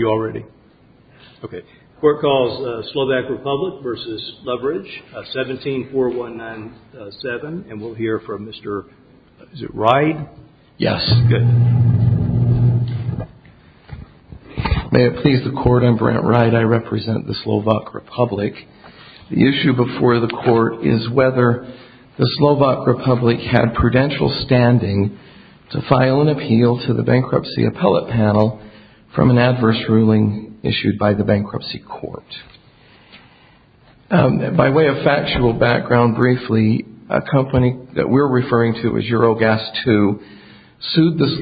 May it please the Court, I'm Brent Wright. I represent the Slovak Republic. The issue before the Court is whether the Slovak Republic had prudential standing to file an appeal to the Bankruptcy Appellate Panel from an adverse ruling issued by the Bankruptcy Court. By way of factual background briefly, a company that we're referring to as Eurogas 2 sued the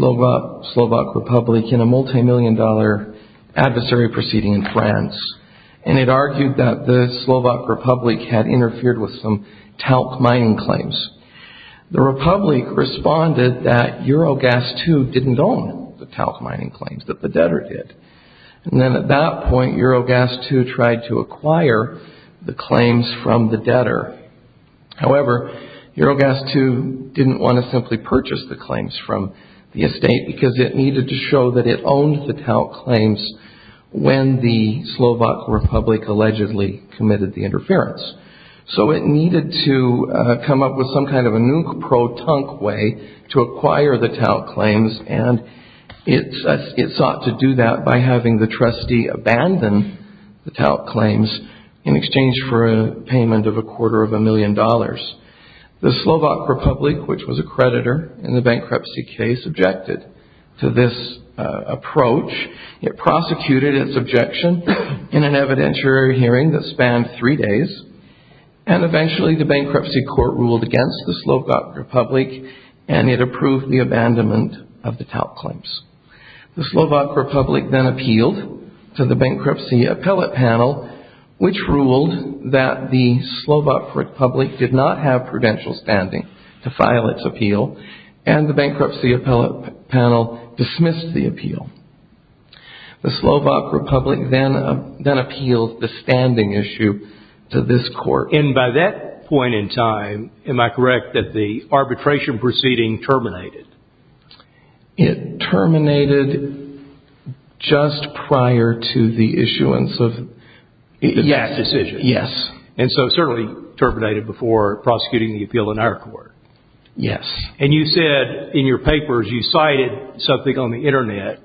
Slovak Republic in a multi-million dollar adversary proceeding in France. And it argued that the Slovak Republic had interfered with some talc mining claims. The Republic responded that Eurogas 2 didn't own the talc mining claims that the debtor did. And then at that point Eurogas 2 tried to acquire the claims from the debtor. However, Eurogas 2 didn't want to simply purchase the claims from the estate because it needed to show that it owned the talc claims when the Slovak Republic allegedly committed the interference. So it needed to come up with some kind of a new pro-tunc way to acquire the talc claims. And it sought to do that by having the trustee abandon the talc claims in exchange for a payment of a quarter of a million dollars. The Slovak Republic, which was a creditor in the bankruptcy case, objected to this approach. It prosecuted its objection in an evidentiary hearing that spanned three days. And eventually the bankruptcy court ruled against the Slovak Republic and it approved the abandonment of the talc claims. The Slovak Republic then appealed to the bankruptcy appellate panel, which ruled that the Slovak Republic did not have prudential standing to file its appeal. And the bankruptcy appellate panel dismissed the appeal. The Slovak Republic then appealed the standing issue to this court. And by that point in time, am I correct that the arbitration proceeding terminated? It terminated just prior to the issuance of this decision. Yes. And so it certainly terminated before prosecuting the appeal in our court. And you said in your papers, you cited something on the internet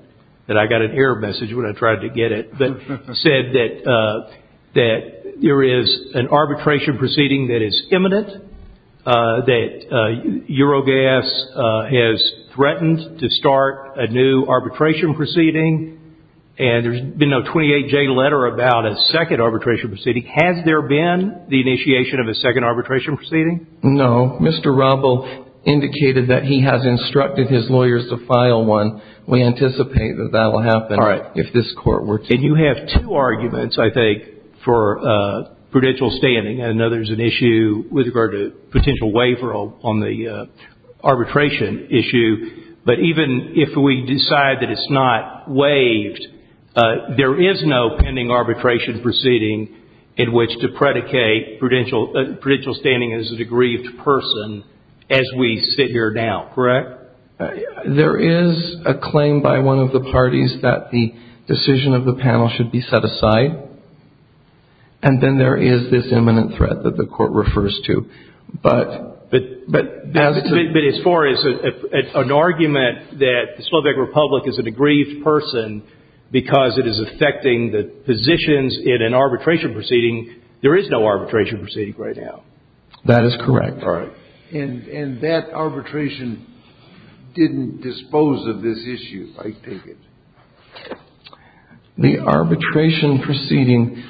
that I got an error message when I tried to get it, that said that there is an arbitration proceeding that is imminent, that Eurogas has threatened to start a new arbitration proceeding, and there's been a 28-J letter about a second arbitration proceeding. Has there been the initiation of a second arbitration proceeding? No. Mr. Robel indicated that he has instructed his lawyers to file one. We anticipate that that will happen if this court were to... And you have two arguments, I think, for prudential standing. I know there's an issue with regard to potential waiver on the arbitration issue. But even if we decide that it's not waived, there is no pending arbitration proceeding in which to predicate prudential standing as a degrieved person as we sit here now, correct? There is a claim by one of the parties that the decision of the panel should be set aside. And then there is this imminent threat that the court refers to. But... But as far as an argument that the Slovak Republic is a degrieved person because it is affecting the positions in an arbitration proceeding, there is no arbitration proceeding right now. That is correct. All right. And that arbitration didn't dispose of this issue, I take it. The arbitration proceeding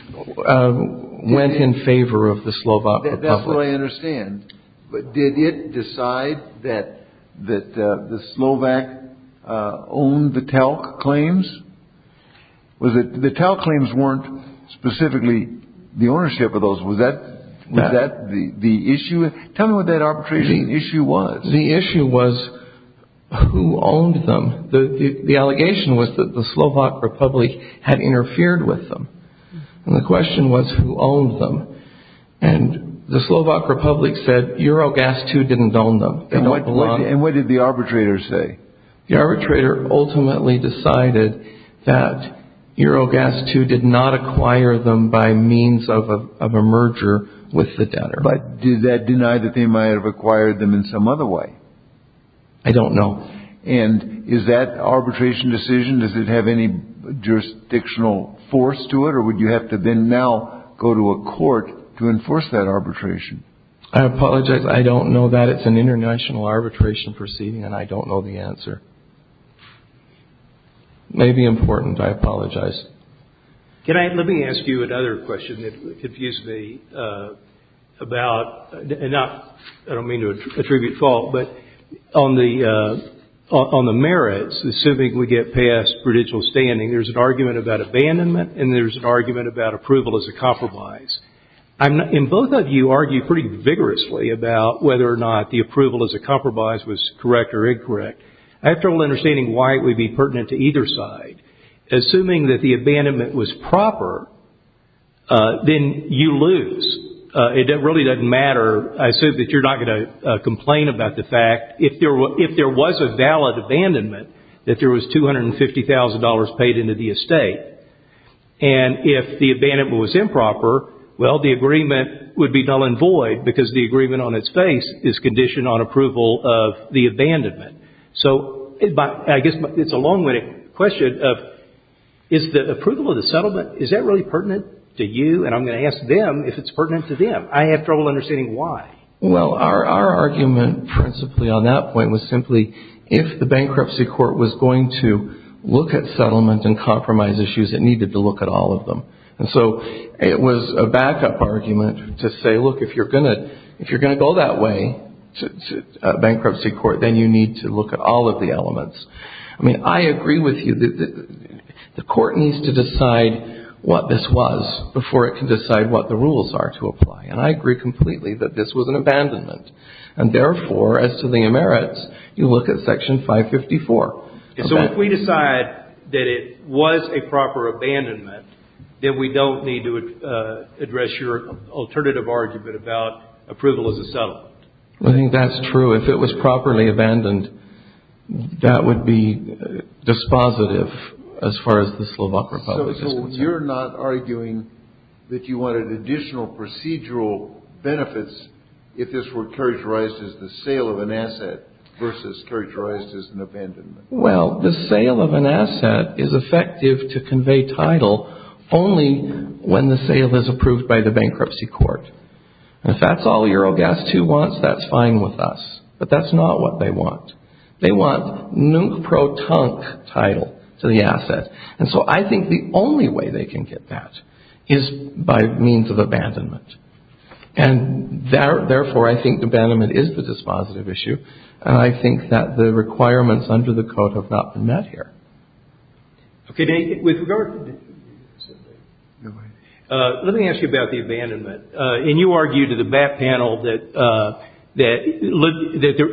went in favor of the Slovak Republic. That's what I understand. But did it decide that the Slovak owned the Talc claims? Was the ownership of those, was that the issue? Tell me what that arbitration issue was. The issue was who owned them. The allegation was that the Slovak Republic had interfered with them. And the question was who owned them. And the Slovak Republic said Eurogas II didn't own them. And what did the arbitrator say? The arbitrator ultimately decided that Eurogas II did not acquire them by means of a merger with the debtor. But did that deny that they might have acquired them in some other way? I don't know. And is that arbitration decision, does it have any jurisdictional force to it? Or would you have to then now go to a court to enforce that arbitration? I apologize. I don't know that. It's an international arbitration proceeding, and I don't know the answer. It may be important. I apologize. Can I, let me ask you another question that confused me about, and not, I don't mean to attribute fault, but on the merits, assuming we get past prudential standing, there's an argument about abandonment, and there's an argument about approval as a compromise. And both of you argue pretty vigorously about whether or not the approval as a compromise was correct or incorrect. I have trouble understanding why it would be pertinent to either side. Assuming that the abandonment was proper, then you lose. It really doesn't matter. I assume that you're not going to complain about the fact, if there was a valid abandonment, that there was $250,000 paid into the estate. And if the abandonment was improper, well, the agreement would be null and void, because the agreement on its face is conditioned on the abandonment. So, I guess it's a long-winded question of, is the approval of the settlement, is that really pertinent to you? And I'm going to ask them if it's pertinent to them. I have trouble understanding why. Well, our argument principally on that point was simply, if the bankruptcy court was going to look at settlement and compromise issues, it needed to look at all of them. And so, it was a backup argument to say, look, if you're going to, if you're going to go that way, a bankruptcy court, then you need to look at all of the elements. I mean, I agree with you that the court needs to decide what this was before it can decide what the rules are to apply. And I agree completely that this was an abandonment. And therefore, as to the merits, you look at Section 554. So, if we decide that it was a proper abandonment, then we don't need to address your alternative argument about approval as a settlement. I think that's true. If it was properly abandoned, that would be dispositive as far as the Slovak Republic is concerned. So, you're not arguing that you wanted additional procedural benefits if this were characterized as the sale of an asset versus characterized as an abandonment? Well, the sale of an asset is effective to convey title only when the sale is approved by the bankruptcy court. And if that's all Eurogast II wants, that's fine with us. But that's not what they want. They want nuke-pro-tunk title to the asset. And so, I think the only way they can get that is by means of abandonment. And therefore, I think abandonment is the dispositive issue. And I think that the requirements under the Code have not been met here. Okay. With regard to the abandonment, let me ask you about the abandonment. And you argued to the BAT panel that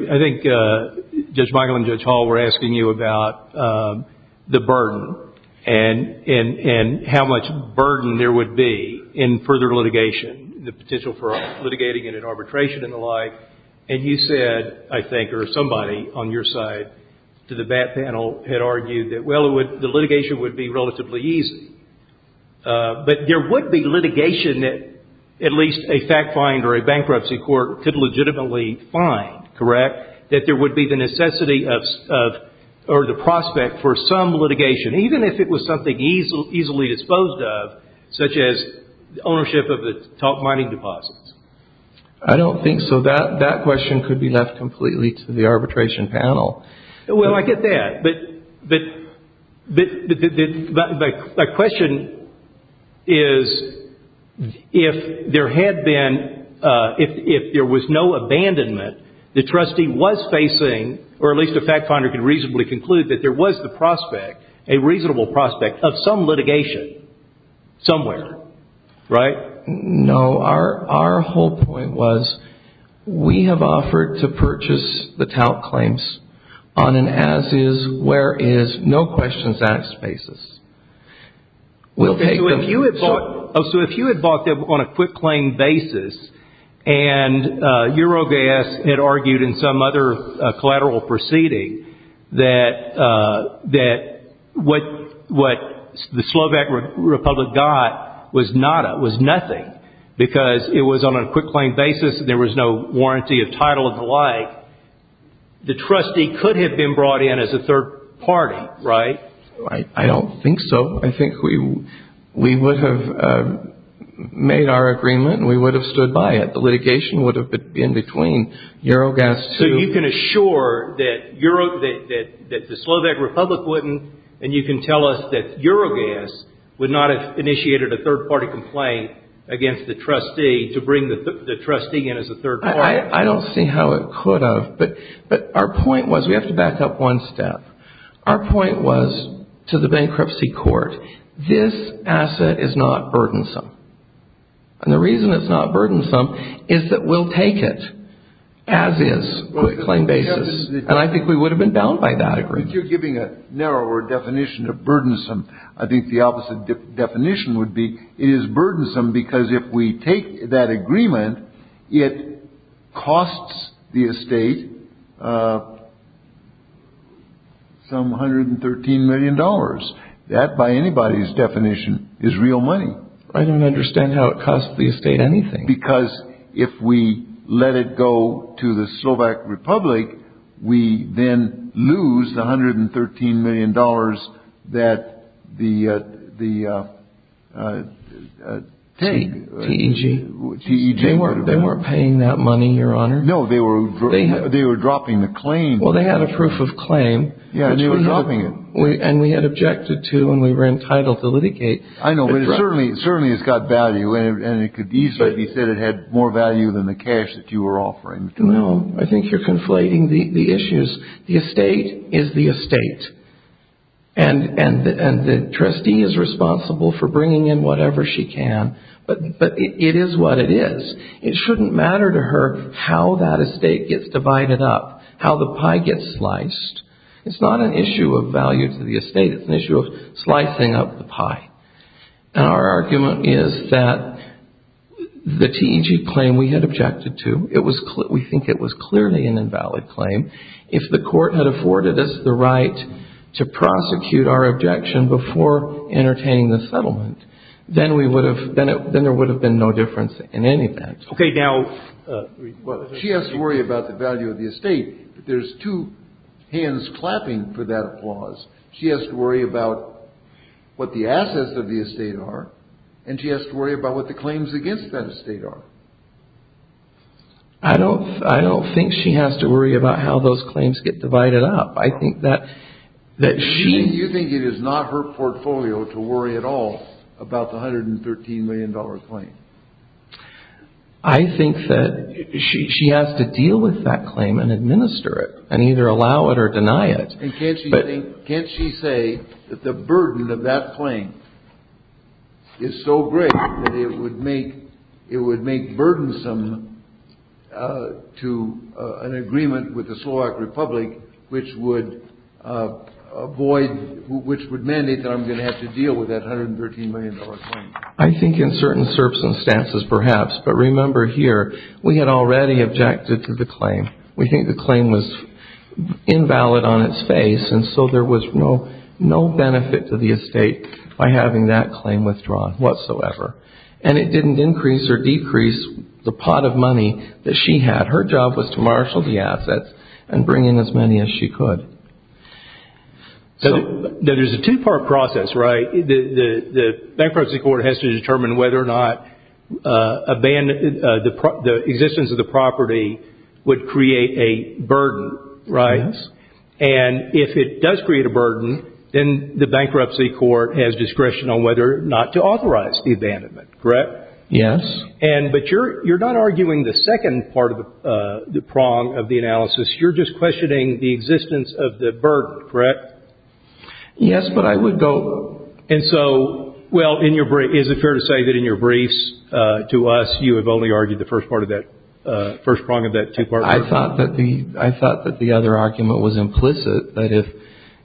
I think Judge Michael and Judge Hall were asking you about the burden and how much burden there would be in further litigation, the potential for litigating it in arbitration and the like. And you said, I think, or somebody on your side to the BAT panel had argued that, well, the litigation would be relatively easy. But there would be litigation that at least a fact finder or a bankruptcy court could legitimately find, correct, that there would be the necessity or the prospect for some litigation, even if it was something easily disposed of, such as ownership of the top mining deposits. I don't think so. That question could be left completely to the arbitration panel. Well, I get that. But the question is, if there had been, if there was no abandonment the trustee was facing, or at least a fact finder could reasonably conclude that there was the prospect, a reasonable prospect, of some litigation somewhere, right? No. Our whole point was, we have offered to purchase the tout claims on an as-is, where-is, no-questions-asked basis. We'll take them. So if you had bought them on a quick-claim basis, and Eurogas had argued in some other collateral proceeding that what the Slovak Republic got was nada, was nothing, was nothing because it was on a quick-claim basis and there was no warranty of title and the like, the trustee could have been brought in as a third party, right? I don't think so. I think we would have made our agreement and we would have stood by it. The litigation would have been between Eurogas to- So you can assure that the Slovak Republic wouldn't, and you can tell us that Eurogas would not have initiated a third-party complaint against the trustee to bring the trustee in as a third party. I don't see how it could have. But our point was, we have to back up one step, our point was to the bankruptcy court, this asset is not burdensome. And the reason it's not burdensome is that we'll take it as-is, quick-claim basis. And I think we would have been bound by that agreement. But you're giving a narrower definition of burdensome. I think the opposite definition would be, it is burdensome because if we take that agreement, it costs the estate some $113 million. That, by anybody's definition, is real money. I don't understand how it costs the estate anything. Because if we let it go to the Slovak Republic, we then lose the $113 million that the T-E-G- They weren't paying that money, Your Honor. No, they were dropping the claim. Well, they had a proof of claim, and we had objected to, and we were entitled to litigate. I know, but it certainly has got value, and it could easily be said it had more value than the cash that you were offering. No, I think you're conflating the issues. The estate is the estate, and the trustee is responsible for bringing in whatever she can. But it is what it is. It shouldn't matter to her how that estate gets divided up, how the pie gets sliced. It's not an issue of value. Our argument is that the T-E-G claim we had objected to, we think it was clearly an invalid claim. If the court had afforded us the right to prosecute our objection before entertaining the settlement, then there would have been no difference in any event. Okay, now. She has to worry about the value of the estate. There's two hands clapping for that applause. She has to worry about what the assets of the estate are, and she has to worry about what the claims against that estate are. I don't think she has to worry about how those claims get divided up. I think that she... You think it is not her portfolio to worry at all about the $113 million claim? I think that she has to deal with that claim and administer it, and either allow it or deny it. And can't she say that the burden of that claim is so great that it would make burdensome to an agreement with the Slovak Republic, which would avoid, which would mandate that I'm going to have to deal with that $113 million claim? I think in certain circumstances, perhaps. But remember here, we had already objected to the claim. We think the claim was invalid on its face, and so there was no benefit to the estate by having that claim withdrawn whatsoever. And it didn't increase or decrease the pot of money that she had. Her job was to marshal the assets and bring in as many as she could. There's a two-part process, right? The bankruptcy court has to determine whether or not the existence of the property would create a burden, right? And if it does create a burden, then the bankruptcy court has discretion on whether or not to authorize the abandonment, correct? Yes. And but you're not arguing the second part of the prong of the analysis. You're just questioning the existence of the burden, correct? Yes, but I would go... And so, well, is it fair to say that in your briefs to us, you have only argued the first part of that, first prong of that two-part prong? I thought that the other argument was implicit, that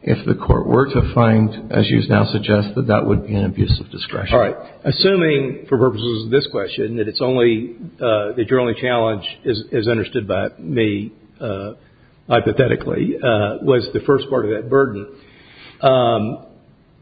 if the court were to find, as you now suggest, that that would be an abuse of discretion. All right. Assuming, for purposes of this question, that it's only, that your only challenge is understood by me, hypothetically, was the first part of that burden,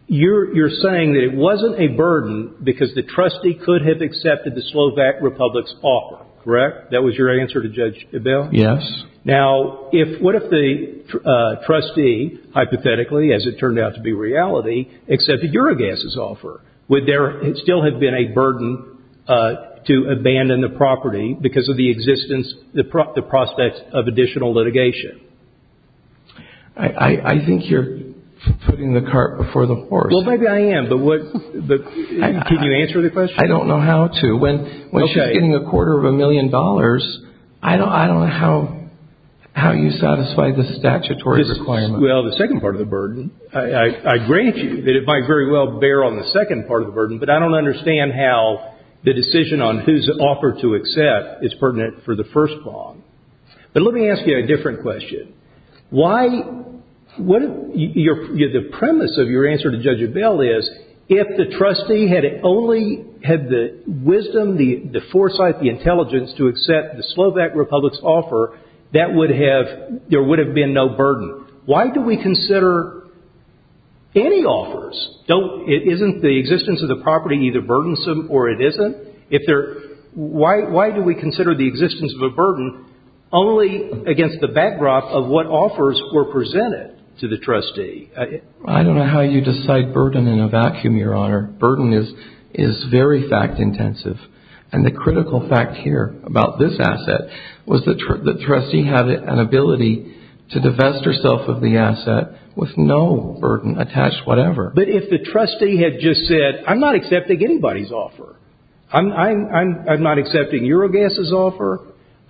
you're saying that it wasn't a burden because the trustee could have accepted the Slovak Republic's offer, correct? That was your answer to Judge Ebel? Yes. Now, if, what if the trustee, hypothetically, as it turned out to be reality, accepted Eurogas's offer? Would there still have been a burden to abandon the property because of the existence, the prospect of additional litigation? I think you're putting the cart before the horse. Well, maybe I am, but what, but can you answer the question? I don't know how to. When she's getting a quarter of a million dollars, I don't know how you satisfy the statutory requirement. Well, the second part of the burden, I agree with you that it might very well bear on the second part of the burden, but I don't understand how the decision on whose offer to accept is pertinent for the first prong. But let me ask you a different question. Why, what your, the premise of your answer to Judge Ebel is, if the trustee had only had the wisdom, the foresight, the intelligence to accept the Slovak Republic's offer, that would have, there would have been no burden. Why do we consider any offers, don't, isn't the existence of the property either burdensome or it isn't? If there, why, why do we consider the existence of a burden only against the backdrop of what offers were presented to the trustee? I don't know how you decide burden in a vacuum, Your Honor. Burden is, is very fact intensive. And the critical fact here about this asset was the trustee had an ability to divest herself of the asset with no burden attached whatever. But if the trustee had just said, I'm not accepting anybody's offer, I'm, I'm, I'm not accepting Eurogas's offer,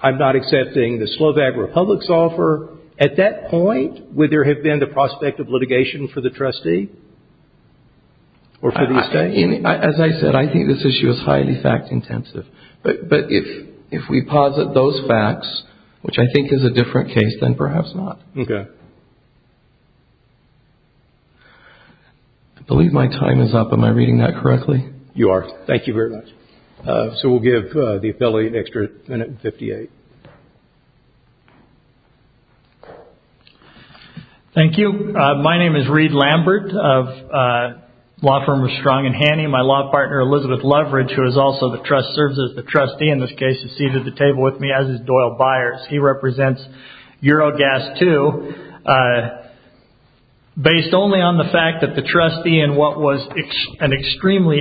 I'm not accepting the Slovak Republic's offer, at that point would there have been the prospect of litigation for the trustee? Or for these guys? As I said, I think this issue is highly fact intensive. But, but if, if we posit those facts, which I think is a different case than perhaps not. Okay. I believe my time is up. Am I reading that correctly? You are. Thank you very much. So we'll give the affiliate an extra minute and fifty-eight. Thank you. My name is Reed Lambert of law firm of Strong and Haney. My law partner Elizabeth Leverage, who is also the trust, serves as the trustee in this case, is seated at the table with me as is Doyle Byers. He represents Eurogas II. Based only on the fact that the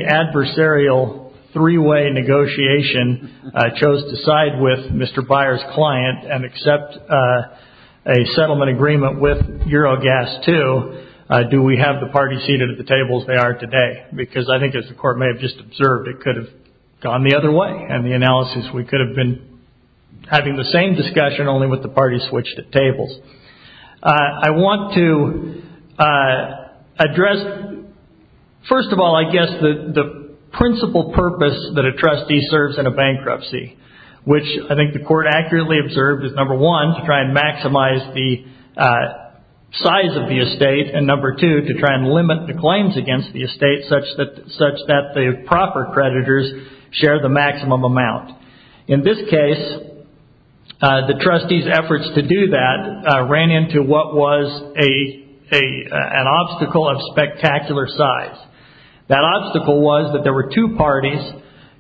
adversarial three-way negotiation chose to side with Mr. Byers' client and accept a settlement agreement with Eurogas II, do we have the party seated at the table as they are today? Because I think as the court may have just observed, it could have gone the other way. And the analysis, we could have been having the same discussion, only with the party switched at tables. I want to address, first of all, I guess the principal purpose that a trustee serves in a bankruptcy, which I think the court accurately observed is number one, to try and maximize the size of the estate, and number two, to try and limit the claims against the estate such that the proper creditors share the maximum amount. In this case, the trustee's efforts to do that ran into what was an obstacle of spectacular size. That obstacle was that there were two parties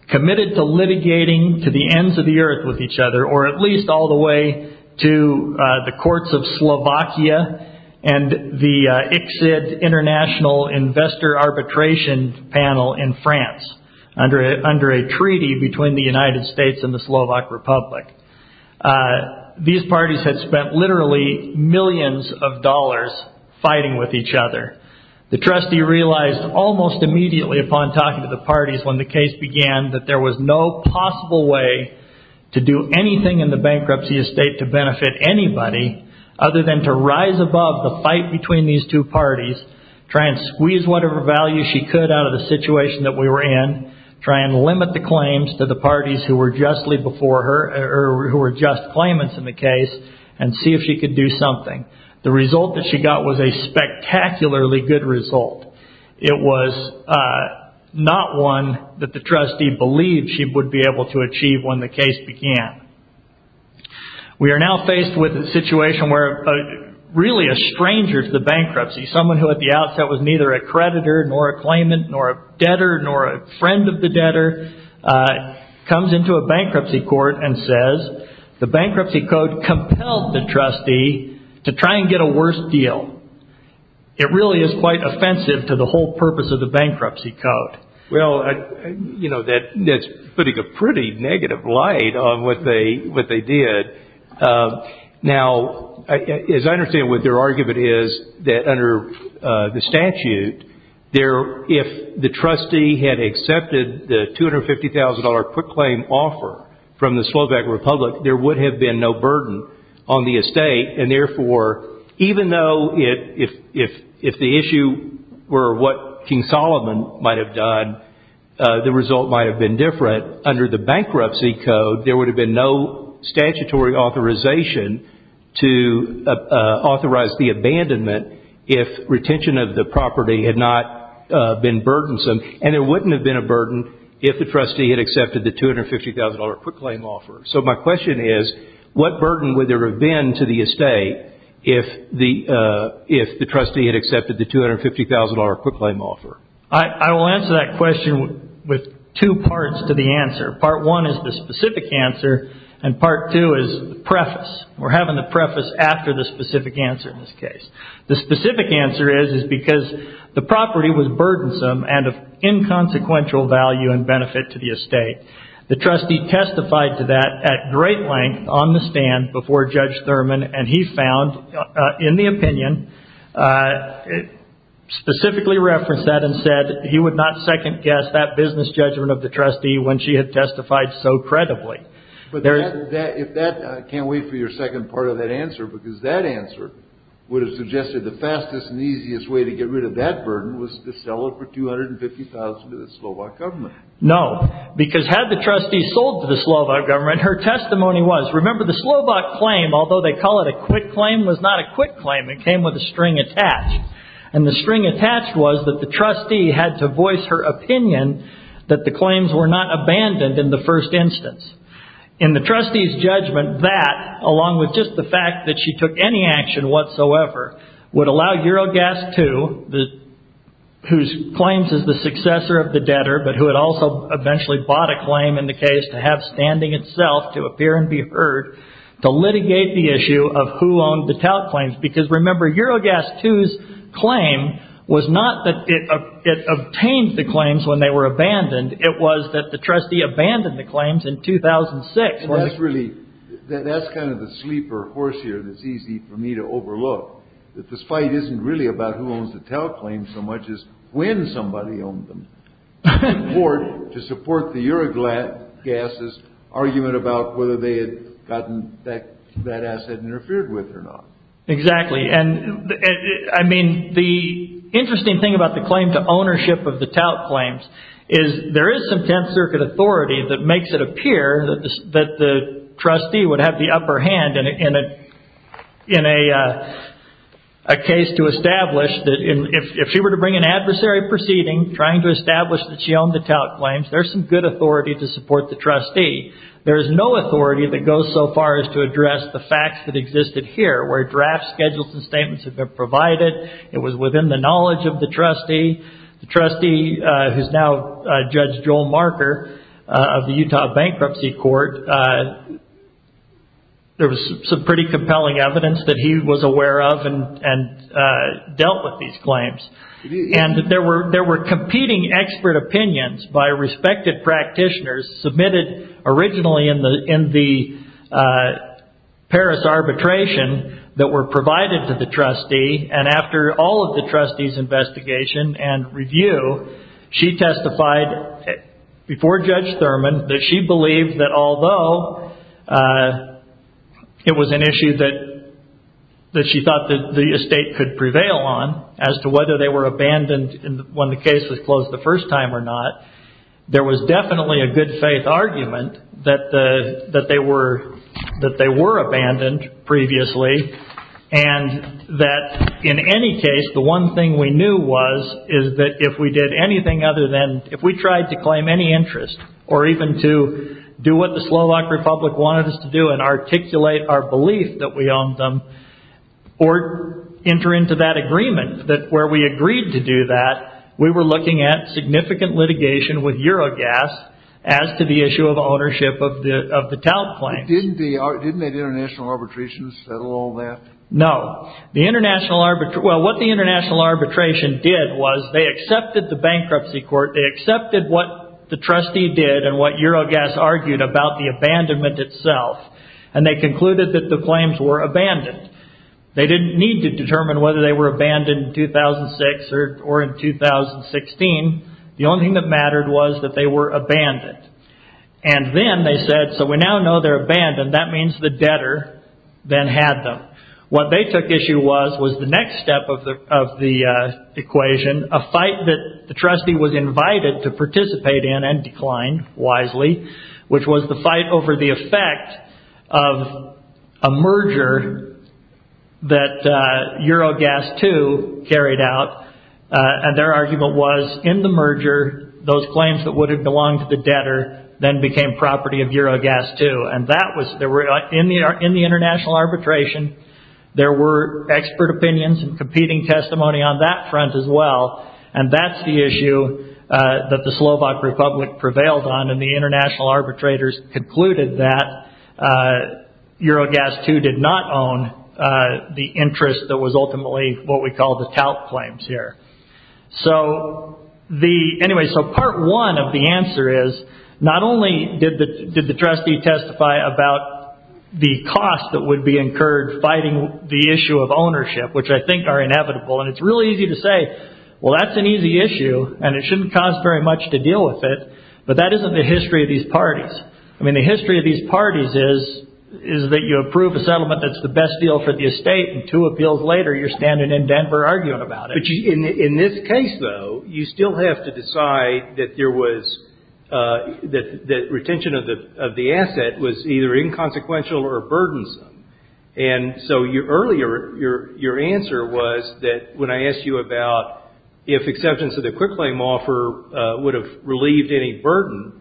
committed to litigating to the ends of the earth with each other, or at least all the way to the courts of Slovakia and the ICSID International Investor Arbitration Panel in France, under a treaty between the United States and the Slovak Republic. These parties had spent literally millions of dollars fighting with each other. The trustee realized almost immediately upon talking to the parties when the case began that there was no possible way to do anything in the bankruptcy estate to benefit anybody other than to rise above the fight between these two parties, try and squeeze whatever value she could out of the situation that we were in, try and limit the claims to the parties who were just claimants in the case, and see if she could do something. The result that she got was a spectacularly good result. It was not one that the trustee believed she would be able to achieve when the case began. We are now faced with a situation where really a stranger to the bankruptcy, someone who at the outset was neither a creditor, nor a claimant, nor a debtor, nor a friend of the debtor, comes into a bankruptcy court and says, the bankruptcy code compelled the trustee to try and get a worse deal. It really is quite offensive to the whole purpose of the bankruptcy code. Well, that's putting a pretty negative light on what they did. Now, as I understand what their argument is, that under the statute, if the trustee had accepted the $250,000 quick claim offer from the Slovak Republic, there would have been no burden on the estate. Therefore, even though if the issue were what King Solomon might have done, the result might have been was the abandonment if retention of the property had not been burdensome. There wouldn't have been a burden if the trustee had accepted the $250,000 quick claim offer. My question is, what burden would there have been to the estate if the trustee had accepted the $250,000 quick claim offer? I will answer that question with two parts to the answer. Part one is the specific answer, and part two is the preface. We're having the preface after the specific answer in this case. The specific answer is, is because the property was burdensome and of inconsequential value and benefit to the estate. The trustee testified to that at great length on the stand before Judge Thurman, and he found in the opinion, specifically referenced that and said he would not second guess that business judgment of the trustee when she had testified so credibly. I can't wait for your second part of that answer, because that answer would have suggested the fastest and easiest way to get rid of that burden was to sell it for $250,000 to the Slovak government. No, because had the trustee sold to the Slovak government, her testimony was, remember the Slovak claim, although they call it a quick claim, was not a quick claim. It came with a string attached. The string attached was that the trustee had to voice her opinion that the claims were not abandoned in the first instance. In the trustee's judgment, that, along with just the fact that she took any action whatsoever, would allow Eurogas 2, whose claims is the successor of the debtor, but who had also eventually bought a claim in the case to have standing itself to appear and be heard, to litigate the issue of who owned the tout claims, because remember Eurogas 2's claim was not that it obtained the claims when they were abandoned. It was that the trustee abandoned the claims in 2006. That's really, that's kind of the sleeper horse here that's easy for me to overlook, that this fight isn't really about who owns the tout claims so much as when somebody owned them, to support the Eurogas' argument about whether they had gotten that asset interfered with or not. Exactly. And I mean, the interesting thing about the claim to ownership of the tout claims is there is some Tenth Circuit authority that makes it appear that the trustee would have the upper hand in a case to establish that if she were to bring an adversary proceeding trying to establish that she owned the tout claims, there's some good authority to support the trustee. There's no authority that goes so far as to address the facts that existed here, where draft schedules and statements have been provided. It was within the knowledge of the trustee. The trustee, who's now Judge Joel Marker of the Utah Bankruptcy Court, there was some pretty compelling evidence that he was aware of and dealt with these claims. And there were competing expert opinions by respected practitioners submitted originally in the Paris arbitration that were provided to the trustee. And after all of the trustee's investigation and review, she testified before Judge Thurman that she believed that although it was an issue that she thought that the estate could prevail on as to whether they were abandoned when the case was closed the first time or not, there was definitely a good faith argument that they were abandoned previously and that in any case the one thing we knew was is that if we did anything other than, if we tried to claim any interest or even to do what the Slovak Republic wanted us to do and articulate our belief that we owned them or enter into that agreement, that where we agreed to do that, we were looking at significant litigation with Eurogas as to the issue of ownership of the tout claim. Didn't the international arbitration settle all that? No. The international arbitration, well, what the international arbitration did was they accepted the bankruptcy court, they accepted what the trustee did and what Eurogas argued about the abandonment itself, and they concluded that the claims were abandoned. They didn't need to determine whether they were abandoned in 2006 or in 2016. The only thing that mattered was that they were abandoned. Then they said, so we now know they're abandoned. That means the debtor then had them. What they took issue with was the next step of the equation, a fight that the trustee was invited to participate in and decline wisely, which was the fight over the effect of a merger that Eurogas II carried out, and their argument was, in the merger, those claims that would have belonged to the debtor then became property of Eurogas II. And that was, in the international arbitration, there were expert opinions and competing testimony on that front as well, and that's the issue that the Slovak Republic prevailed on, and the international arbitrators concluded that Eurogas II did not own the interest that was ultimately what we call the tout claims here. So anyway, so part one of the answer is, not only did the trustee testify about the cost that would be incurred fighting the issue of ownership, which I think are inevitable, and it's really easy to say, well, that's an easy issue, and it shouldn't cost very much to deal with it, but that isn't the history of these parties. I mean, the history of these parties is that you approve a settlement that's the best deal for the estate, and two appeals later, you're standing in Denver arguing about it. But in this case, though, you still have to decide that the retention of the asset was either inconsequential or burdensome. And so earlier, your answer was that when I asked you about if exceptions to the quick claim offer would have relieved any burden,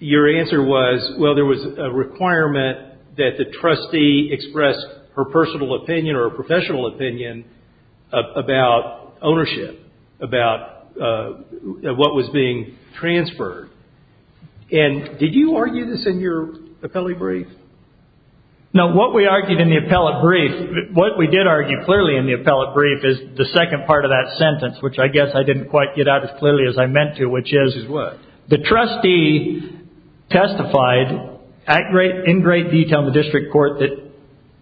your answer was, well, there was a requirement that the trustee express her personal opinion or professional opinion about ownership, about what was being transferred. And did you argue this in your appellate brief? No, what we argued in the appellate brief, what we did argue clearly in the appellate brief is the second part of that sentence, which I guess I didn't quite get out as clearly as I meant to, which is the trustee testified in great detail in the district court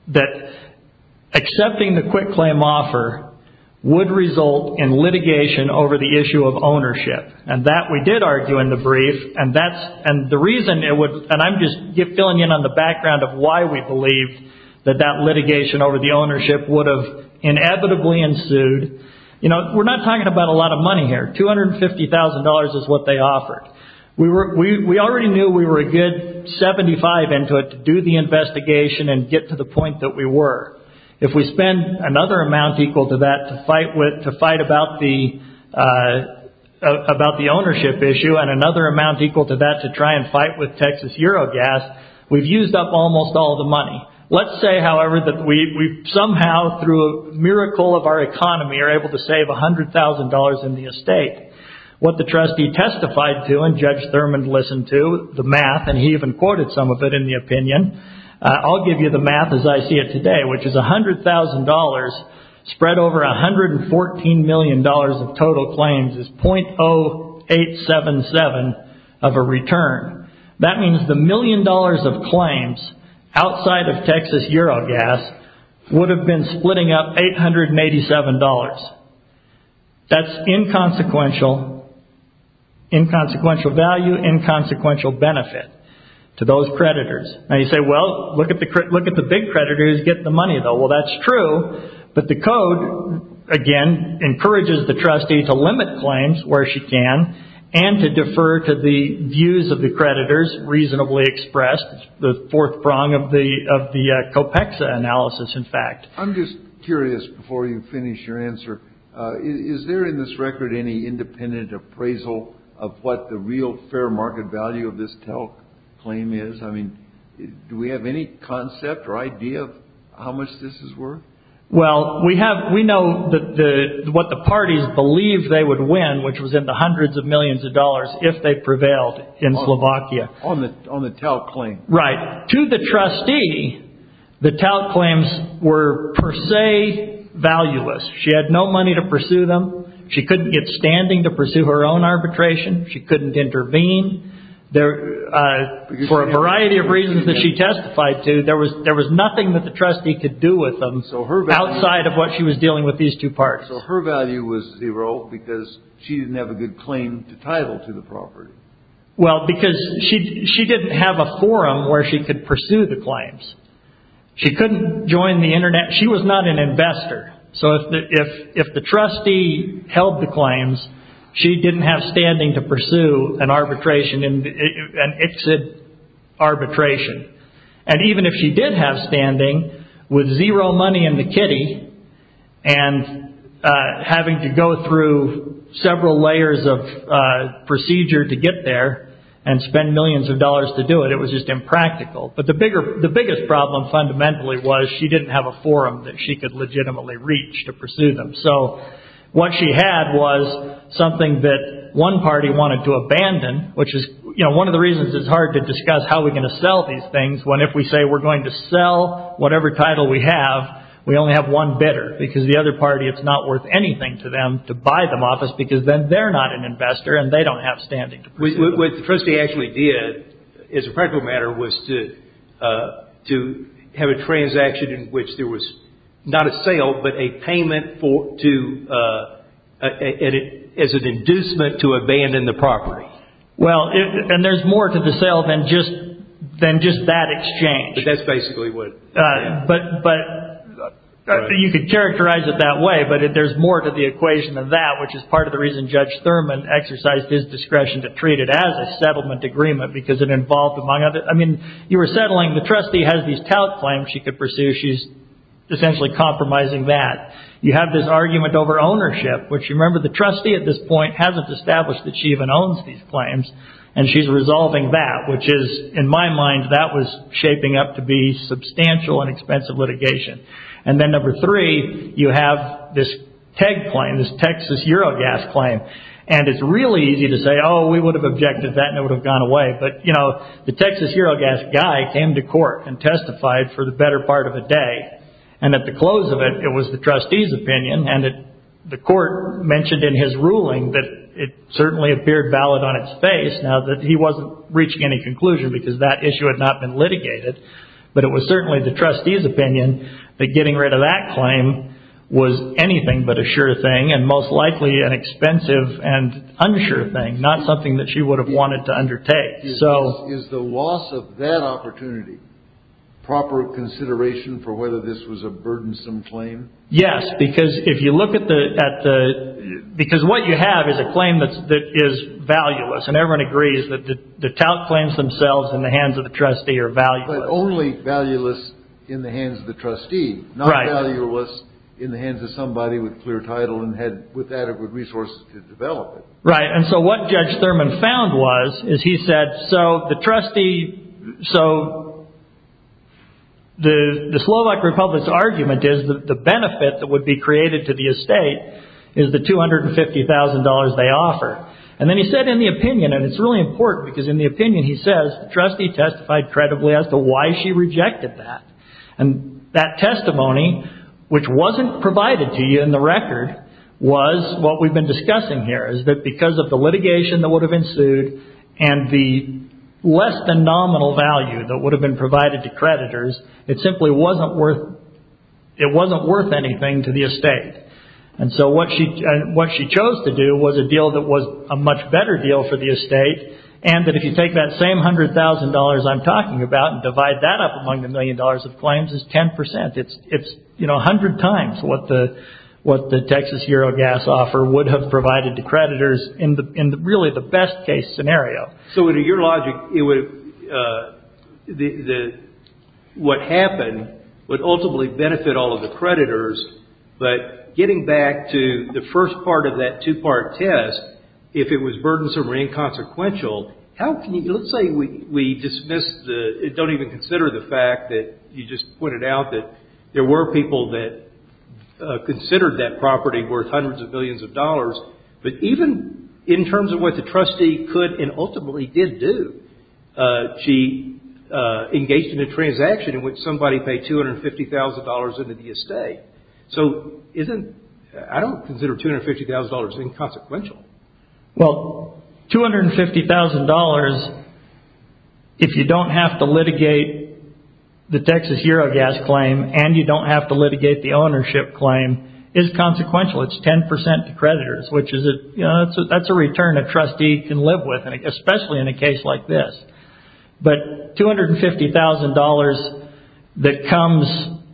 that accepting the quick claim offer would result in litigation over the issue of ownership. And that we did argue in the brief, and the reason it would, and I'm just filling in on the background of why we believe that that litigation over the ownership would have inevitably ensued. We're not talking about a lot of money here. $250,000 is what they offered. We already knew we were a good 75 into it to do the investigation and get to the point that we were. If we spend another amount equal to that to fight about the ownership issue and another amount equal to that to try and fight with Texas Eurogas, we've used up almost all the money. Let's say, however, that we somehow through a miracle of our economy are able to save $100,000 in the estate. What the trustee testified to and Judge Thurmond listened to, the math, and he even quoted some of it in the opinion. I'll give you the math as I see it today, which is $100,000 spread over $114 million of total claims is .0877, which is of a return. That means the million dollars of claims outside of Texas Eurogas would have been splitting up $887. That's inconsequential value, inconsequential benefit to those creditors. Now you say, well, look at the big creditors get the money though. Well, that's true, but the code, again, encourages the trustee to limit claims where she can and to defer to the views of the creditors reasonably expressed, the fourth prong of the COPEXA analysis, in fact. I'm just curious before you finish your answer, is there in this record any independent appraisal of what the real fair market value of this TELC claim is? I mean, do we have any concept or idea of how much this is worth? Well, we know what the parties believe they would win, which was in the hundreds of millions of dollars if they prevailed in Slovakia. On the TELC claim? Right. To the trustee, the TELC claims were per se valueless. She had no money to pursue them. She couldn't get standing to pursue her own arbitration. She couldn't intervene. For a variety of reasons that she testified to, there was nothing that the trustee could do with them outside of what she was dealing with these two parties. So her value was zero because she didn't have a good claim to title to the property? Well, because she didn't have a forum where she could pursue the claims. She couldn't join the internet. She was not an investor. So if the trustee held the claims, she didn't have standing to pursue an arbitration, an exit arbitration. And even if she did have zero money in the kitty and having to go through several layers of procedure to get there and spend millions of dollars to do it, it was just impractical. But the biggest problem fundamentally was she didn't have a forum that she could legitimately reach to pursue them. So what she had was something that one party wanted to abandon, which is, you know, one of the reasons it's hard to discuss how we're going to sell these things, when if we say we're going to sell whatever title we have, we only have one bidder because the other party, it's not worth anything to them to buy them off us because then they're not an investor and they don't have standing to pursue them. What the trustee actually did, as a practical matter, was to have a transaction in which there was not a sale, but a payment as an inducement to abandon the property. Well, and there's more to the sale than just that exchange. That's basically what... You could characterize it that way, but there's more to the equation than that, which is part of the reason Judge Thurman exercised his discretion to treat it as a settlement agreement because it involved, among other... I mean, you were settling, the trustee has these tout claims she could pursue. She's essentially compromising that. You have this argument over ownership, which, remember, the trustee at this point hasn't established that she even owns these claims, and she's resolving that, which is, in my mind, that was shaping up to be substantial and expensive litigation. And then number three, you have this TEG claim, this Texas Eurogas claim, and it's really easy to say, oh, we would have objected to that and it would have gone away, but the Texas Eurogas guy came to court and testified for the better part of a day, and at the close of it, it was the trustee's opinion, and the court mentioned in his ruling that it certainly appeared valid on its face, now that he wasn't reaching any conclusion because that issue had not been litigated, but it was certainly the trustee's opinion that getting rid of that claim was anything but a sure thing, and most likely an expensive and unsure thing, not something that she would have wanted to undertake. Is the loss of that opportunity proper consideration for whether this was a burdensome claim? Yes, because if you look at the... Because what you have is a claim that is valueless, and everyone agrees that the tout claims themselves in the hands of the trustee are valueless. But only valueless in the hands of the trustee, not valueless in the hands of somebody with clear title and had adequate resources to develop it. Right, and so what Judge Thurman found was, is he said, so the trustee... The Slovak Republic's argument is that the benefit that would be created to the estate is the $250,000 they offer, and then he said in the opinion, and it's really important because in the opinion he says, the trustee testified credibly as to why she rejected that, and that testimony, which wasn't provided to you in the record, was what we've been discussing here, is that because of the litigation that would have ensued, and the less than it simply wasn't worth, it wasn't worth anything to the estate. And so what she chose to do was a deal that was a much better deal for the estate, and that if you take that same $100,000 I'm talking about and divide that up among the million dollars of claims, it's 10%. It's 100 times what the Texas Euro Gas offer would have provided to creditors in really the best case scenario. So in your logic, what happened would ultimately benefit all of the creditors, but getting back to the first part of that two-part test, if it was burdensome or inconsequential, how can you... Let's say we dismiss the... Don't even consider the fact that you just pointed out that there were people that considered that property worth hundreds of billions of dollars, but even in terms of what the trustee could and ultimately did do, she engaged in a transaction in which somebody paid $250,000 into the estate. So isn't... I don't consider $250,000 inconsequential. Well, $250,000, if you don't have to litigate the Texas Euro Gas claim, and you don't have to litigate the ownership claim, is consequential. It's 10% to creditors, which is a... That's a return a trustee can live with, especially in a case like this. But $250,000 that comes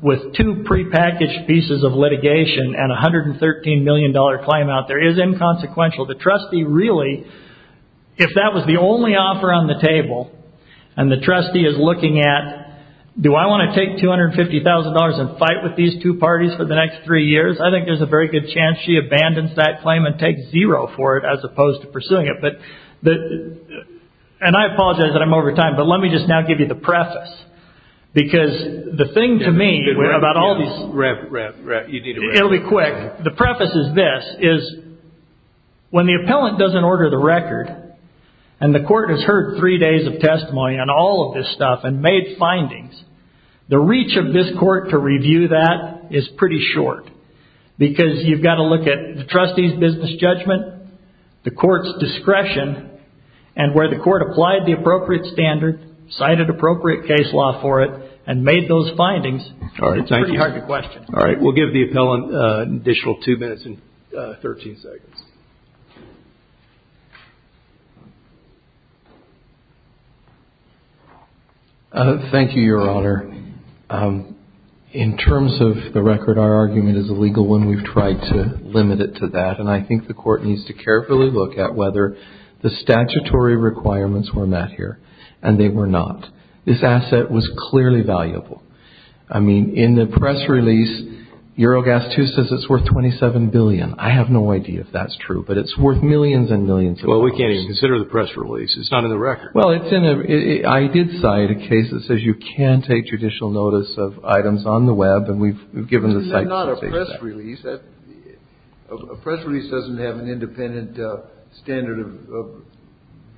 with two prepackaged pieces of litigation and $113 million claim out there is inconsequential. The trustee really, if that was the only offer on the table, and the trustee is looking at, do I want to take $250,000 and fight with these two parties for the next three years? I think there's a very good chance she abandons that claim and takes zero for it, as opposed to pursuing it. But the... And I apologize that I'm over time, but let me just now give you the preface. Because the thing to me about all these... Rep, rep, rep, you need to... It'll be quick. The preface is this, is when the appellant doesn't order the record, and the court has heard three days of testimony on all of this stuff and made findings, the reach of this you've got to look at the trustee's business judgment, the court's discretion, and where the court applied the appropriate standard, cited appropriate case law for it, and made those findings, it's pretty hard to question. All right. We'll give the appellant an additional two minutes and 13 seconds. Thank you, Your Honor. Your Honor, in terms of the record, our argument is a legal one. We've tried to limit it to that. And I think the court needs to carefully look at whether the statutory requirements were met here, and they were not. This asset was clearly valuable. I mean, in the press release, Eurogas 2 says it's worth 27 billion. I have no idea if that's true, but it's worth millions and millions of dollars. Well, we can't even consider the press release. It's not in the record. Well, I did cite a case that says you can take judicial notice of items on the web, and we've given the site space. Not a press release. A press release doesn't have an independent standard of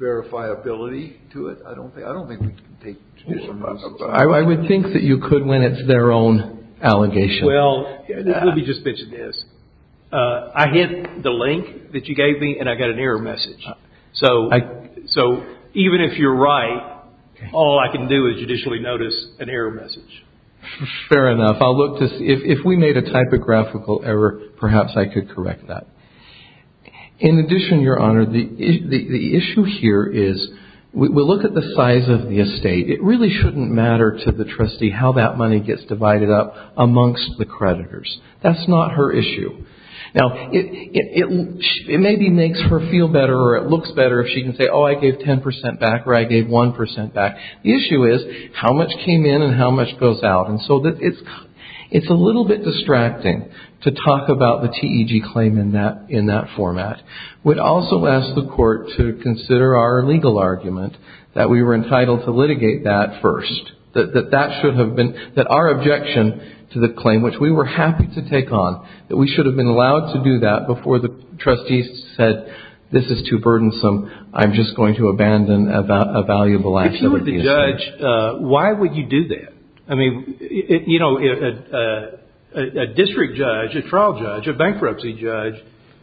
verifiability to it. I don't think we can take judicial notice of that. I would think that you could when it's their own allegation. Well, let me just mention this. I hit the link that you gave me, and I got an error message. So, even if you're right, all I can do is judicially notice an error message. Fair enough. I'll look to see. If we made a typographical error, perhaps I could correct that. In addition, Your Honor, the issue here is we look at the size of the estate. It really shouldn't matter to the trustee how that money gets divided up amongst the creditors. That's not her issue. Now, it maybe makes her feel better or it looks better if she can say, oh, I gave 10% back or I gave 1% back. The issue is how much came in and how much goes out. And so, it's a little bit distracting to talk about the TEG claim in that format. We'd also ask the court to consider our legal argument that we were entitled to litigate that first, that our objection to the claim, which we were happy to take on, that we should have been allowed to do that before the trustee said, this is too burdensome, I'm just going to abandon a valuable asset of the estate. If you were the judge, why would you do that? I mean, a district judge, a trial judge, a bankruptcy judge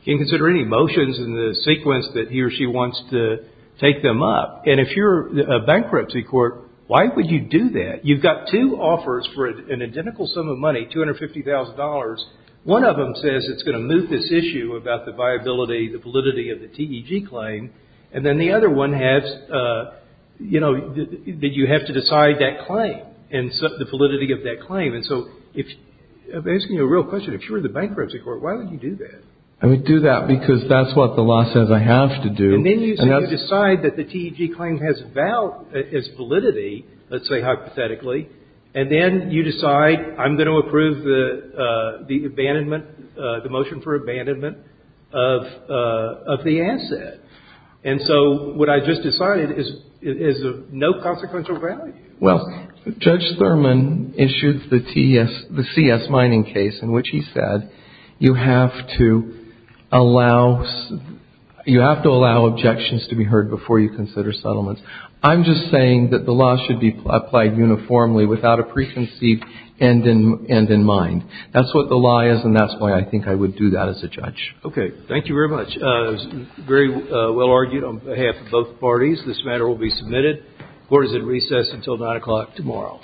can consider any motions in the sequence that he or she wants to take them up. And if you're a bankruptcy court, why would you do that? You've got two offers for an identical sum of money, $250,000. One of them says it's going to move this issue about the viability, the validity of the TEG claim. And then the other one has, you know, that you have to decide that claim and the validity of that claim. And so, if I'm asking you a real question, if you were the bankruptcy court, why would you do that? I would do that because that's what the law says I have to do. And then you decide that the TEG claim has validity, let's say hypothetically, and then you decide I'm going to approve the abandonment, the motion for abandonment of the asset. And so, what I just decided is of no consequential value. Well, Judge Thurman issued the TS, the CS mining case in which he said you have to allow, you have to allow objections to be heard before you consider settlements. I'm just saying that the law should be applied uniformly without a preconceived end in mind. That's what the law is, and that's why I think I would do that as a judge. Okay. Thank you very much. It was very well argued on behalf of both parties. This matter will be submitted. Court is at recess until 9 o'clock tomorrow.